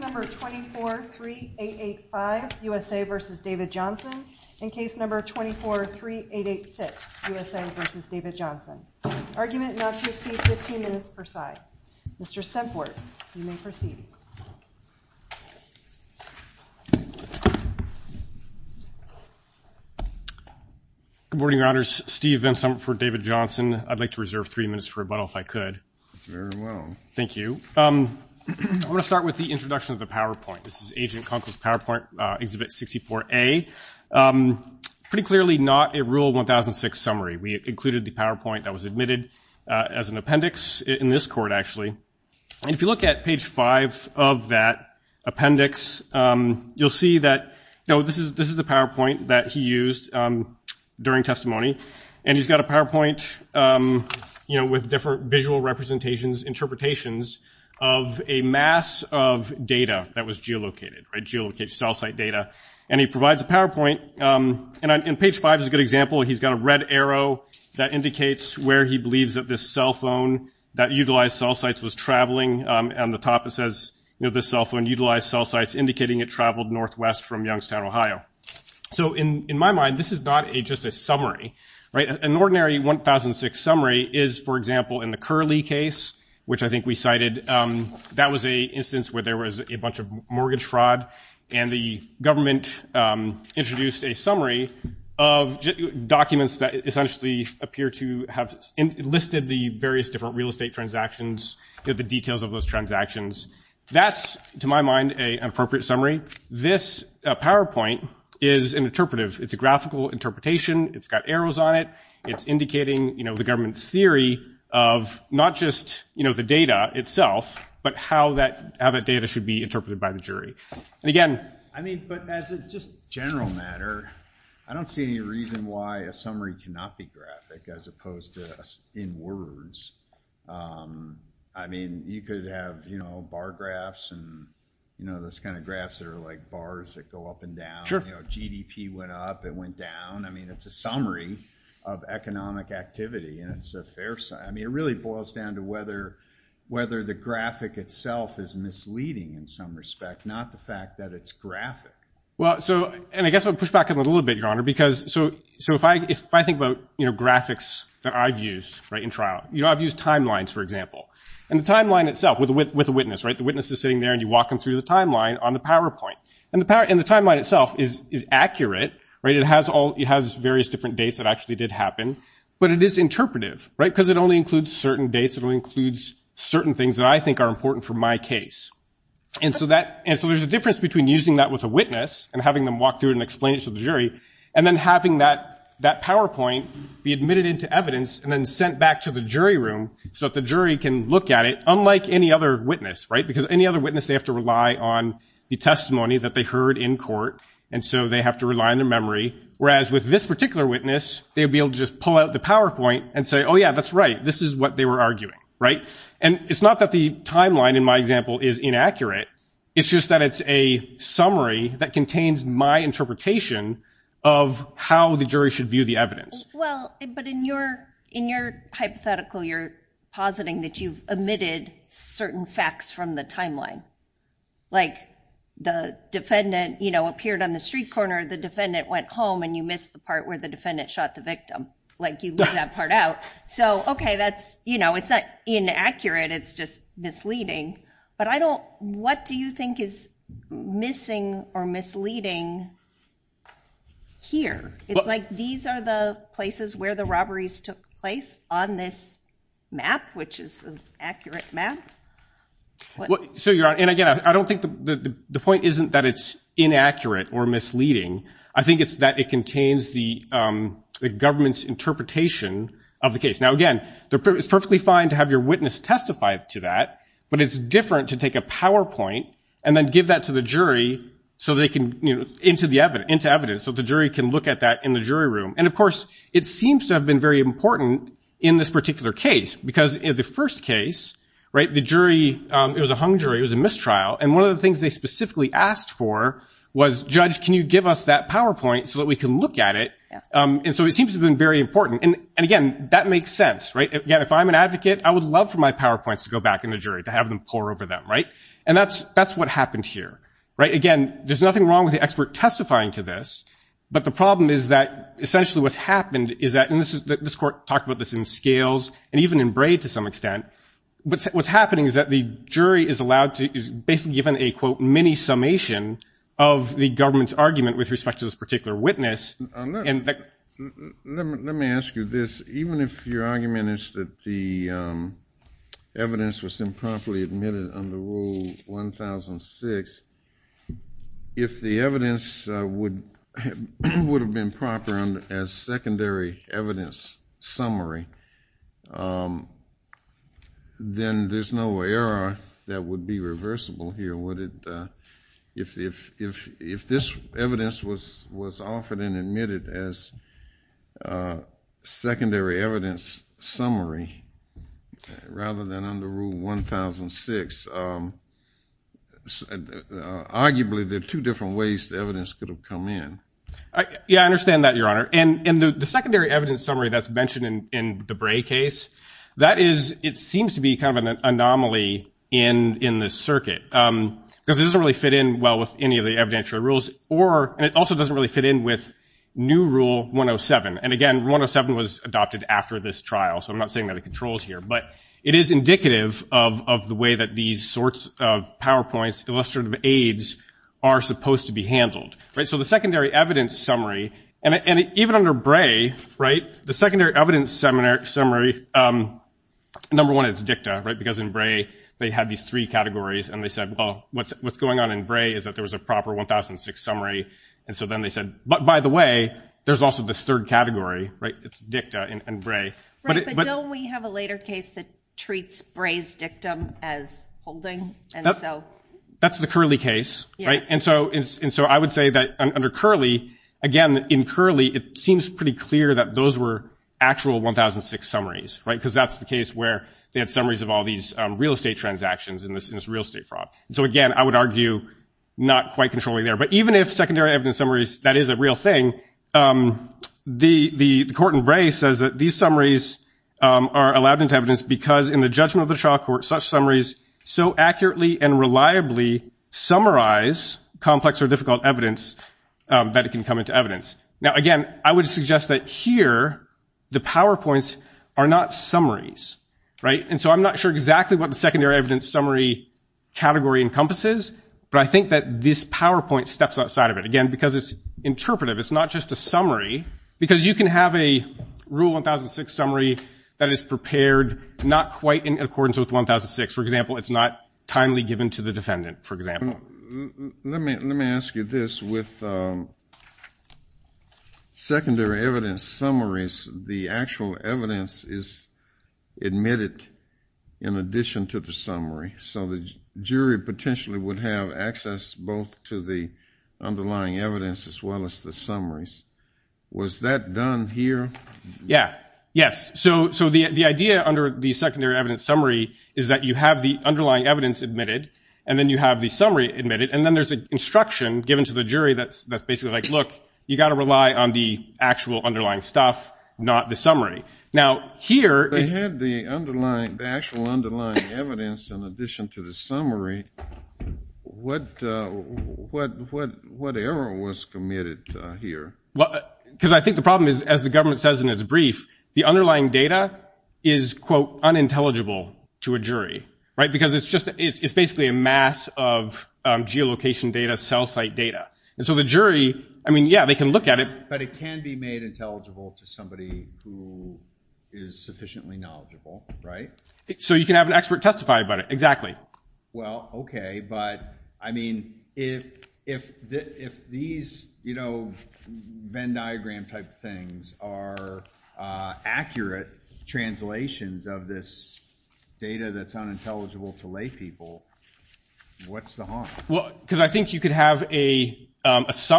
number 24 3 8 8 5 USA versus David Johnson in case number 24 3 8 8 6 USA versus David Johnson argument not to see 15 minutes per side mr. stemport you may proceed good morning your honors Steve Vinson for David Johnson I'd like to three minutes for rebuttal if I could thank you I'm gonna start with the introduction of the PowerPoint this is agent Conklin's PowerPoint exhibit 64 a pretty clearly not a rule 1006 summary we included the PowerPoint that was admitted as an appendix in this court actually and if you look at page 5 of that appendix you'll see that no this is this is the PowerPoint that he used during testimony and he's got a PowerPoint you know with different visual representations interpretations of a mass of data that was geolocated right geolocation cell site data and he provides a PowerPoint and I'm in page 5 is a good example he's got a red arrow that indicates where he believes that this cell phone that utilized cell sites was traveling and the top it says you know this cell phone utilized cell sites indicating it traveled northwest from Youngstown Ohio so in in my mind this is not a just a summary right an ordinary 1006 summary is for example in the curly case which I think we cited that was a instance where there was a bunch of mortgage fraud and the government introduced a summary of documents that essentially appear to have enlisted the various different real estate transactions the details of those summary this PowerPoint is an interpretive it's a graphical interpretation it's got arrows on it it's indicating you know the government's theory of not just you know the data itself but how that other data should be interpreted by the jury and again I mean but as a just general matter I don't see any reason why a summary cannot be graphic as opposed to us in words I mean you could have you know bar graphs and you know this kind of graphs that are like bars that go up and down your GDP went up it went down I mean it's a summary of economic activity and it's a fair sign I mean it really boils down to whether whether the graphic itself is misleading in some respect not the fact that it's graphic well so and I guess I'll push back a little bit your honor because so so if I if I think about you know graphics that I've used right in you know I've used timelines for example and the timeline itself with with a witness right the witness is sitting there and you walk them through the timeline on the PowerPoint and the power in the timeline itself is accurate right it has all it has various different dates that actually did happen but it is interpretive right because it only includes certain dates it only includes certain things that I think are important for my case and so that and so there's a difference between using that with a witness and having them walk through it and explain it to the jury and then having that that PowerPoint be admitted into evidence and then sent back to the jury room so that the jury can look at it unlike any other witness right because any other witness they have to rely on the testimony that they heard in court and so they have to rely on their memory whereas with this particular witness they'll be able to just pull out the PowerPoint and say oh yeah that's right this is what they were arguing right and it's not that the timeline in my example is inaccurate it's just that it's a summary that contains my interpretation of how the but in your in your hypothetical you're positing that you've omitted certain facts from the timeline like the defendant you know appeared on the street corner the defendant went home and you missed the part where the defendant shot the victim like you do that part out so okay that's you know it's not inaccurate it's just misleading but I don't what do you think is missing or misleading here it's like these are the places where the robberies took place on this map which is an accurate map what so you're on and again I don't think the point isn't that it's inaccurate or misleading I think it's that it contains the government's interpretation of the case now again there is perfectly fine to have your witness testify to that but it's different to take a PowerPoint and then give that to the jury so they can you know into the evidence into evidence so the jury can look at that in the jury room and of course it seems to have been very important in this particular case because in the first case right the jury it was a hung jury it was a mistrial and one of the things they specifically asked for was judge can you give us that PowerPoint so that we can look at it and so it seems to have been very important and again that makes sense right again if I'm an advocate I would love for my PowerPoints to go back in the jury to have them pour over them right and that's that's what happened here right again there's nothing wrong with the expert testifying to this but the problem is that essentially what's happened is that this is that this court talked about this in scales and even in braid to some extent but what's happening is that the jury is allowed to basically given a quote mini summation of the government's argument with respect to this particular witness and let me ask you this even if your argument is that the evidence was improperly admitted under rule 1006 if the evidence would would have been proper and as secondary evidence summary then there's no error that would be reversible here would it if if if this evidence was was offered and admitted as secondary evidence summary rather than under rule 1006 arguably there are two different ways the evidence could have come in yeah I understand that your honor and in the secondary evidence summary that's mentioned in the bray case that is it seems to be kind of an anomaly in in this circuit because it doesn't really fit in well with any of the evidentiary rules or it also doesn't really fit in with new rule 107 and again 107 was adopted after this trial so I'm not saying that it controls here but it is indicative of the way that these sorts of PowerPoints illustrative aids are supposed to be handled right so the secondary evidence summary and even under bray right the secondary evidence seminar summary number one it's dicta right because in bray they had these three categories and they said well what's what's going on in bray is that there was a proper 1006 summary and so then they said but by the way there's also this third category right it's dicta in and bray but we have a later case that treats braise dictum as that's the curly case right and so is and so I would say that under curly again in curly it seems pretty clear that those were actual 1006 summaries right because that's the case where they had summaries of all these real estate transactions in this in this real estate fraud so again I would argue not quite controlling there but even if secondary evidence summaries that is a real thing the the court in bray says that these summaries are allowed into evidence because in the judgment of the trial court such summaries so accurately and reliably summarize complex or difficult evidence that it can come into evidence now again I would suggest that here the PowerPoints are not summaries right and so I'm not sure exactly what the secondary evidence summary category encompasses but I think that this PowerPoint steps outside of it again because it's interpretive it's not just a summary because you can have a rule 1006 summary that is prepared not quite in accordance with 1006 for example it's not timely given to the defendant for example let me let me ask you this with secondary evidence summaries the actual evidence is admitted in addition to the summary so the jury potentially would have access both to the underlying evidence as well as the summaries was that done here yeah yes so so the the idea under the secondary evidence summary is that you have the underlying evidence admitted and then you have the summary admitted and then there's a given to the jury that's that's basically like look you got to rely on the actual underlying stuff not the summary now here they had the underlying the actual underlying evidence in addition to the summary what what what what error was committed here what because I think the problem is as the government says in its brief the underlying data is quote unintelligible to a jury right because it's just it's basically a mass of geolocation data cell site data and so the jury I mean yeah they can look at it but it can be made intelligible to somebody who is sufficiently knowledgeable right so you can have an expert testify about it exactly well okay but I mean if if that if these you know Venn diagram type things are accurate translations of this data that's unintelligible to lay people what's the harm well because I think you could have a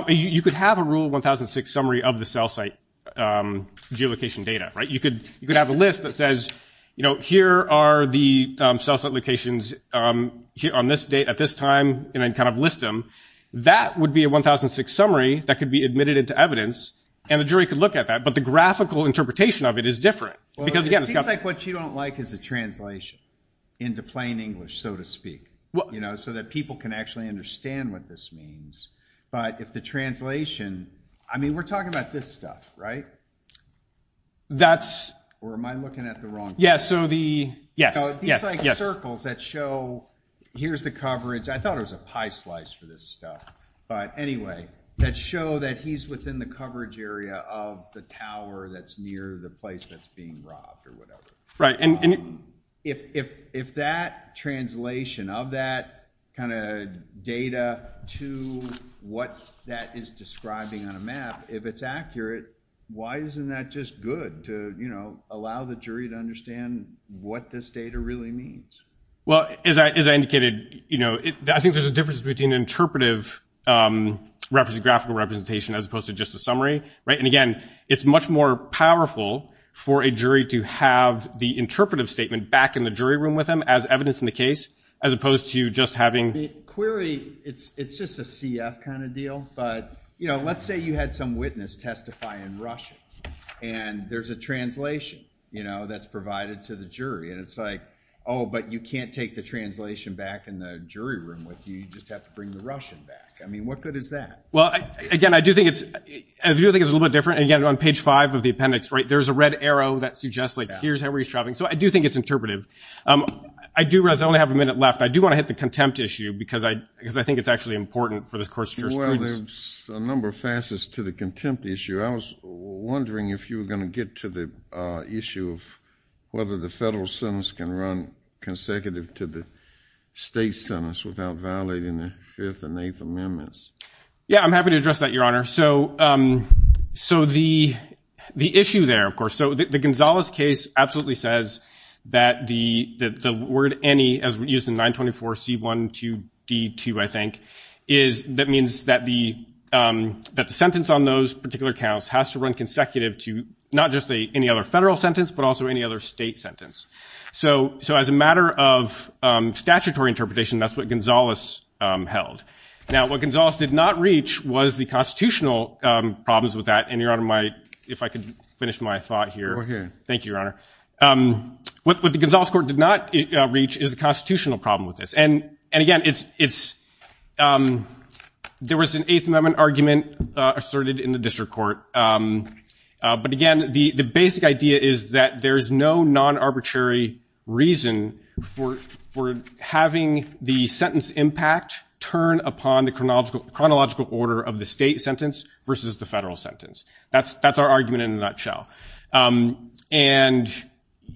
you could have a rule 1006 summary of the cell site geolocation data right you could you could have a list that says you know here are the cell site locations here on this date at this time and then kind of list them that would be a 1006 summary that could be admitted into evidence and the jury could look at that but the graphical interpretation of it is different because again it's got like what you don't like is a translation into plain English so to speak well you know so that people can actually understand what this means but if the translation I mean we're talking about this stuff right that's or am I looking at the wrong yeah so the yes yes like circles that show here's the coverage I thought it was a pie slice for this stuff but anyway that show that he's within the coverage area of the tower that's near the place that's being robbed or whatever right and if if that translation of that kind of data to what that is describing on a map if it's accurate why isn't that just good to you know allow the jury to understand what this data really means well as I indicated you know I think there's a difference between interpretive represent graphical representation as opposed to just a summary right and again it's much more powerful for a jury to have the interpretive statement back in the jury room with them as evidence in the case as opposed to just having query it's it's just a CF kind of deal but you know let's say you had some witness testify in Russian and there's a translation you know that's provided to the jury and it's like oh but you can't take the translation back in the jury room with you just have to bring the Russian back I mean what good is that well again I do think it's I do think it's a little different again on page five of the appendix right there's a red arrow that suggests like here's how we're shopping so I do think it's interpretive I do realize I only have a minute left I do want to hit the contempt issue because I because I think it's actually important for this course there's a number of facets to the contempt issue I was wondering if you were going to get to the issue of whether the federal sentence can run consecutive to the state sentence without violating the fifth and eighth amendments yeah I'm happy to address that your honor so so the the issue there of course so the Gonzalez case absolutely says that the the word any as we used in 924 c1 to d2 I think is that means that the that the sentence on those particular counts has to run consecutive to not just a any other federal sentence but also any other state sentence so so as a matter of statutory interpretation that's what Gonzalez held now what Gonzalez did not reach was the constitutional problems with that and your honor might if I could finish my thought here okay thank you your honor what the Gonzales court did not reach is a constitutional problem with this and and again it's it's there was an eighth amendment argument asserted in the district court but again the the basic idea is that there is no non-arbitrary reason for for having the sentence impact turn upon the chronological chronological order of the state sentence versus the federal sentence that's that's our argument in a nutshell and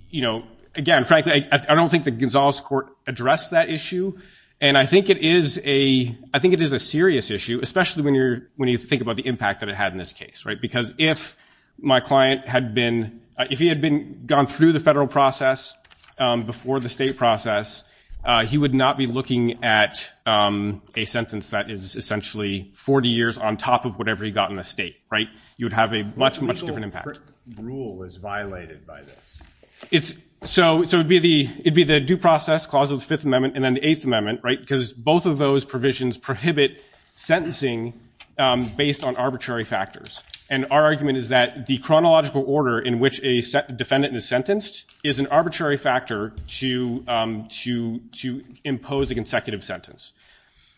you know again frankly I don't think the Gonzales court addressed that issue and I think it is a I think it is a serious issue especially when you're when you think about the impact that it had in this case right because if my client had been if he had been gone through the federal process before the state process he would not be looking at a sentence that is essentially 40 years on top of whatever he got in a state right you would have a much much different impact rule is violated by this it's so it would be the it'd be the due process clause of the Fifth Amendment and then the Eighth Amendment right because both of those provisions prohibit sentencing based on arbitrary factors and our argument is that the chronological order in which a defendant is sentenced is an arbitrary factor to to to impose a consecutive sentence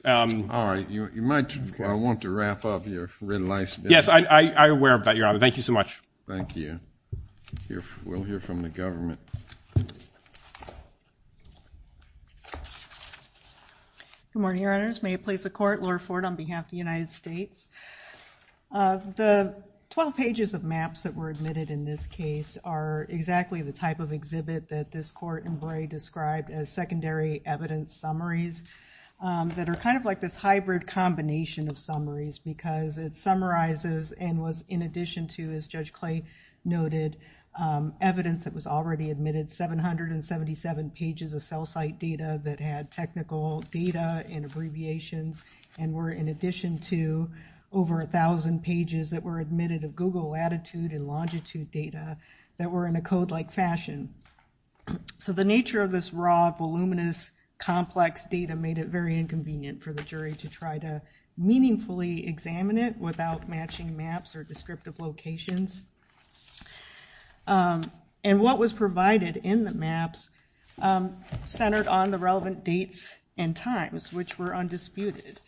all right you might want to yes I I wear about your honor thank you so much thank you we'll hear from the government good morning your honors may it place a court Lord Ford on behalf of the United States the 12 pages of maps that were admitted in this case are exactly the type of exhibit that this court in Bray described as secondary evidence summaries that are kind of like this hybrid combination of summaries because it summarizes and was in addition to as Judge Clay noted evidence that was already admitted 777 pages of cell site data that had technical data and abbreviations and were in addition to over a thousand pages that were admitted of Google latitude and longitude data that were in a code like fashion so the nature of this raw voluminous complex data made it very inconvenient for the jury to try to meaningfully examine it without matching maps or descriptive locations and what was provided in the maps centered on the relevant dates and times which were undisputed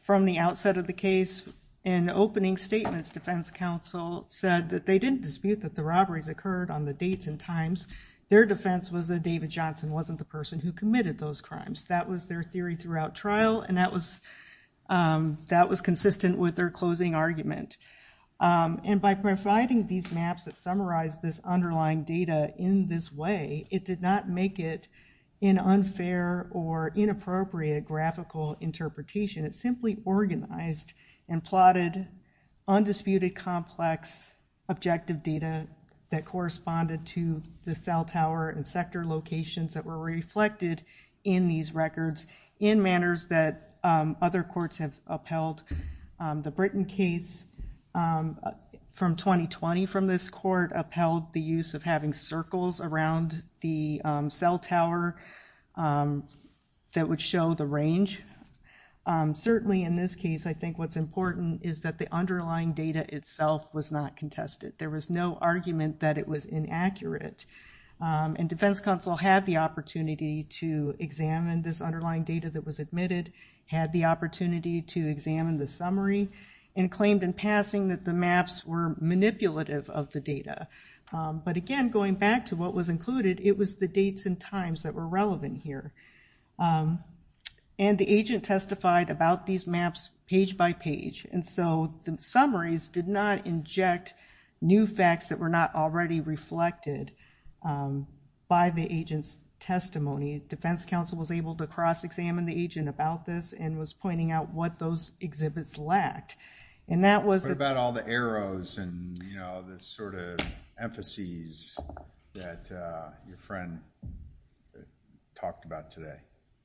from the outset of the case in opening statements defense counsel said that they didn't dispute that the robberies occurred on the dates and times their defense was that David Johnson wasn't the person who committed those crimes that was their theory throughout trial and that was that was consistent with their closing argument and by providing these maps that summarize this underlying data in this way it did not make it in unfair or inappropriate graphical interpretation it simply organized and plotted undisputed complex objective data that corresponded to the cell tower and sector locations that were reflected in these records in manners that other courts have upheld the Britain case from 2020 from this court upheld the use of having circles around the cell tower that would show the range certainly in this case I think what's important is that the underlying data itself was not contested there was no argument that it was inaccurate and defense counsel had the opportunity to examine this underlying data that was admitted had the opportunity to examine the summary and claimed in passing that the maps were manipulative of the data but again going back to what was included it was the dates and times that were relevant here and the agent testified about these maps page by page and so the summaries did not inject new facts that were not already reflected by the agents testimony defense counsel was able to cross-examine the agent about this and was pointing out what those exhibits lacked and that was about all the arrows and you know this sort of emphases that your friend talked about today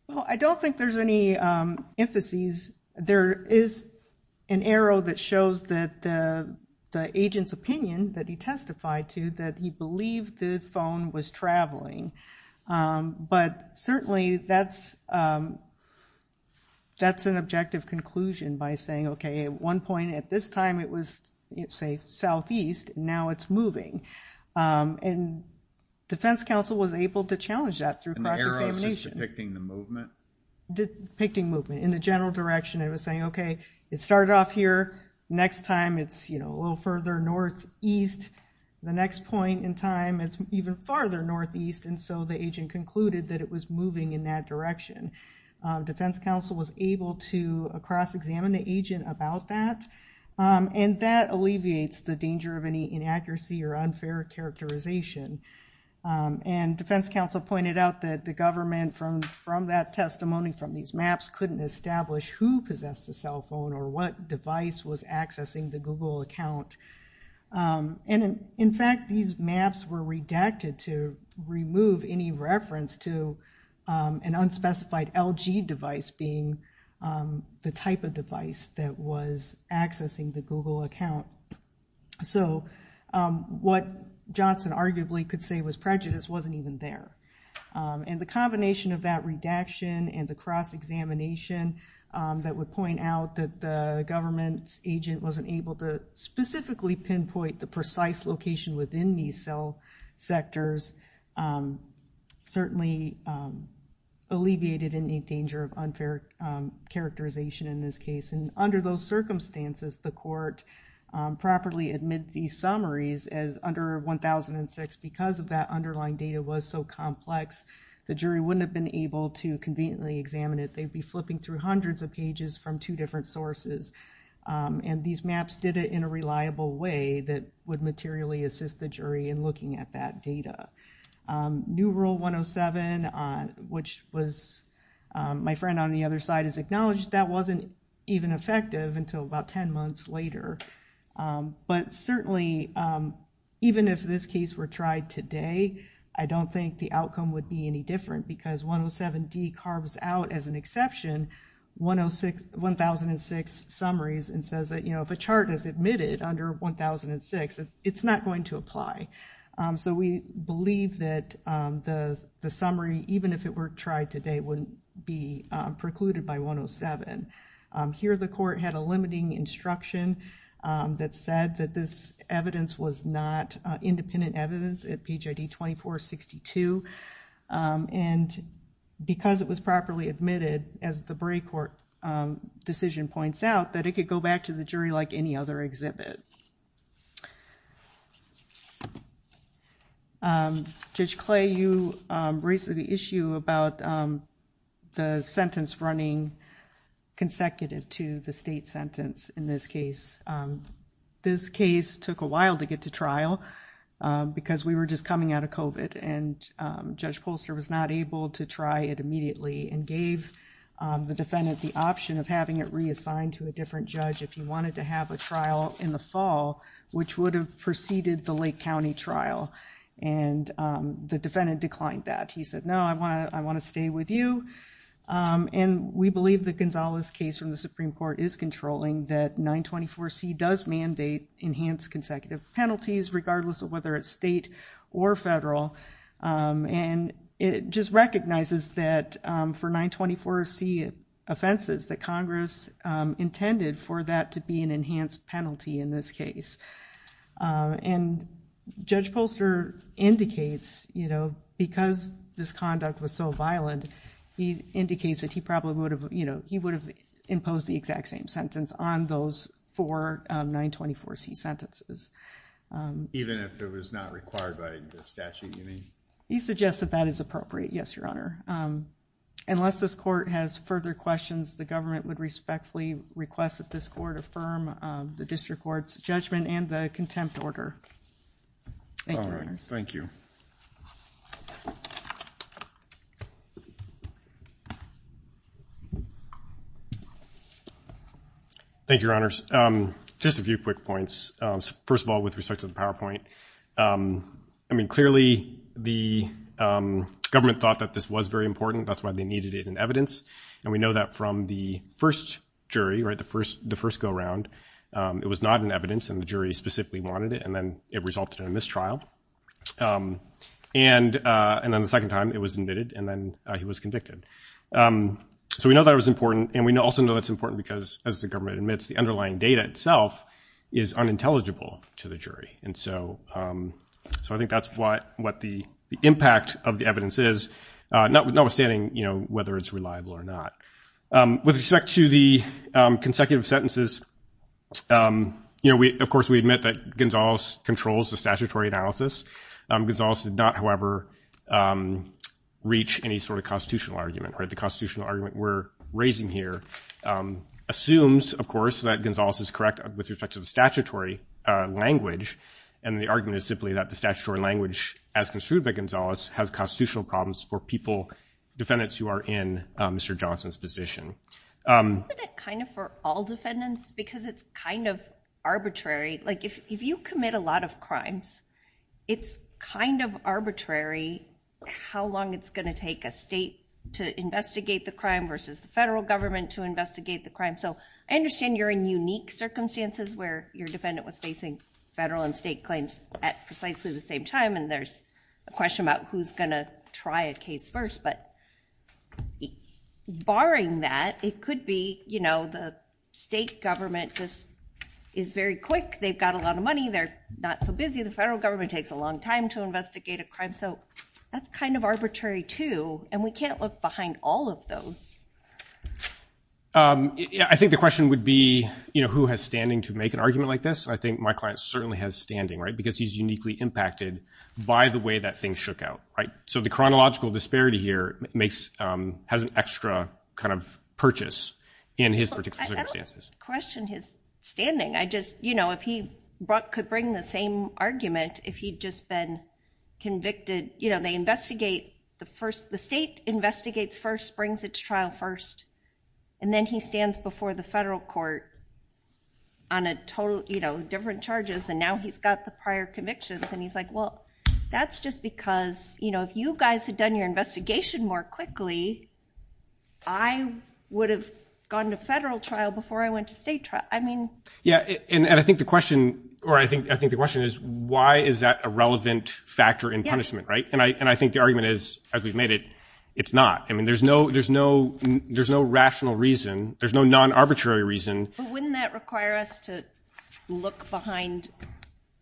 well I don't think there's any emphases there is an arrow that shows that the agent's opinion that he testified to that he believed the phone was traveling but certainly that's that's an objective conclusion by saying okay at one point at this time it was it's a southeast now it's moving and defense counsel was able to challenge that through depicting movement in the general direction it was saying okay it started off here next time it's you know a little further northeast the next point in time it's even farther northeast and so the agent concluded that it was moving in that direction defense counsel was able to cross-examine the agent about that and that alleviates the danger of any inaccuracy or unfair characterization and defense counsel pointed out that the government from from that testimony from these maps couldn't establish who possessed the cell phone or what device was accessing the Google account and in fact these maps were redacted to remove any reference to an unspecified LG device being the type of device that was accessing the Google account so what Johnson arguably could say was prejudice wasn't even there and the combination of that redaction and the cross-examination that would point out that the government's agent wasn't able to specifically pinpoint the precise location within these cell sectors certainly alleviated any danger of unfair characterization in this case and under those circumstances the court properly admit these summaries as under 1006 because of that underlying data was so complex the jury wouldn't have been able to conveniently examine it they'd be flipping through hundreds of pages from two different sources and these maps did it in a reliable way that would materially assist the jury in looking at that data new rule 107 on which was my friend on the other side is acknowledged that wasn't even effective until about 10 months later but certainly even if this case were tried today I don't think the outcome would be any different because 107 D carves out as an exception 106 1006 summaries and says that you admitted under 1006 it's not going to apply so we believe that the summary even if it were tried today wouldn't be precluded by 107 here the court had a limiting instruction that said that this evidence was not independent evidence at PJD 2462 and because it was properly admitted as the Bray court decision points out that it could go back to the jury like any other exhibit judge clay you raised the issue about the sentence running consecutive to the state sentence in this case this case took a while to get to trial because we were just coming out of kovat and judge Polster was not able to try it and gave the defendant the option of having it reassigned to a different judge if you wanted to have a trial in the fall which would have preceded the Lake County trial and the defendant declined that he said no I want to I want to stay with you and we believe the Gonzales case from the Supreme Court is controlling that 924 C does mandate enhanced consecutive penalties regardless of whether it's state or federal and it just recognizes that for 924 C offenses that Congress intended for that to be an enhanced penalty in this case and judge Polster indicates you know because this conduct was so violent he indicates that he probably would have you know he would have imposed the exact same sentence on those for 924 C sentences even if it was not required by the statute you mean he suggests that that is appropriate yes your honor unless this court has further questions the government would respectfully request that this court affirm the district courts judgment and contempt order thank you thank you thank your honors just a few quick points first of all with respect to the PowerPoint I mean clearly the government thought that this was very important that's why they needed it in evidence and we know that from the first jury right the first the first go-around it was not an evidence and the jury specifically wanted it and then it resulted in a mistrial and and then the second time it was admitted and then he was convicted so we know that it was important and we know also know that's important because as the government admits the underlying data itself is unintelligible to the jury and so so I think that's what what the impact of the evidence is notwithstanding you know whether it's reliable or not with respect to the consecutive sentences you know we of course we admit that Gonzales controls the statutory analysis Gonzales did not however reach any sort of constitutional argument right the constitutional argument we're raising here assumes of course that Gonzales is correct with respect to the statutory language and the argument is simply that the statutory language as construed by Gonzales has constitutional problems for people defendants who are in mr. Johnson's position kind of for all like if you commit a lot of crimes it's kind of arbitrary how long it's going to take a state to investigate the crime versus the federal government to investigate the crime so I understand you're in unique circumstances where your defendant was facing federal and state claims at precisely the same time and there's a question about who's gonna try a case first but barring that it be you know the state government this is very quick they've got a lot of money they're not so busy the federal government takes a long time to investigate a crime so that's kind of arbitrary too and we can't look behind all of those I think the question would be you know who has standing to make an argument like this I think my client certainly has standing right because he's uniquely impacted by the way that thing shook out right so the logical disparity here makes has an extra kind of purchase in his particular stances question his standing I just you know if he brought could bring the same argument if he'd just been convicted you know they investigate the first the state investigates first brings its trial first and then he stands before the federal court on a total you know different charges and now he's got the prior convictions and he's like well that's just because you know if you guys had done your investigation more quickly I would have gone to federal trial before I went to state trial I mean yeah and I think the question or I think I think the question is why is that a relevant factor in punishment right and I and I think the argument is as we've made it it's not I mean there's no there's no there's no rational reason there's no non-arbitrary reason wouldn't that require us to look behind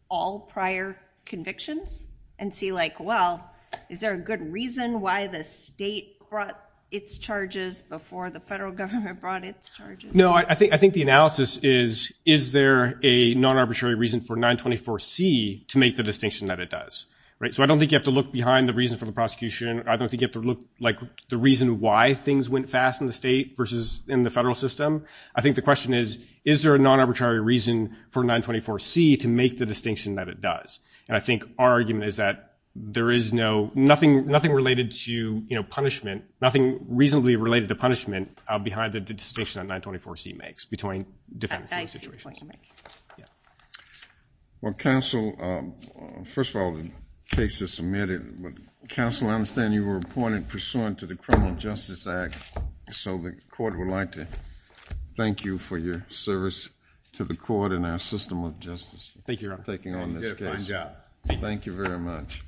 all prior convictions and see like well is there a good reason why the state brought its charges before the federal government brought its charges no I think I think the analysis is is there a non-arbitrary reason for 924 C to make the distinction that it does right so I don't think you have to look behind the reason for the prosecution I don't think you have to look like the reason why things went fast in the state versus in the federal system I think the question is is there a non-arbitrary reason for 924 C to make the distinction that it does and I think our argument is that there is no nothing nothing related to you know punishment nothing reasonably related to punishment behind the distinction on 924 C makes between different situations. Well counsel first of all the case is submitted but counsel I understand you were appointed pursuant to the criminal justice act so the court would like to thank you for your service to the court and our system of justice thank you for taking on this case. Thank you very much.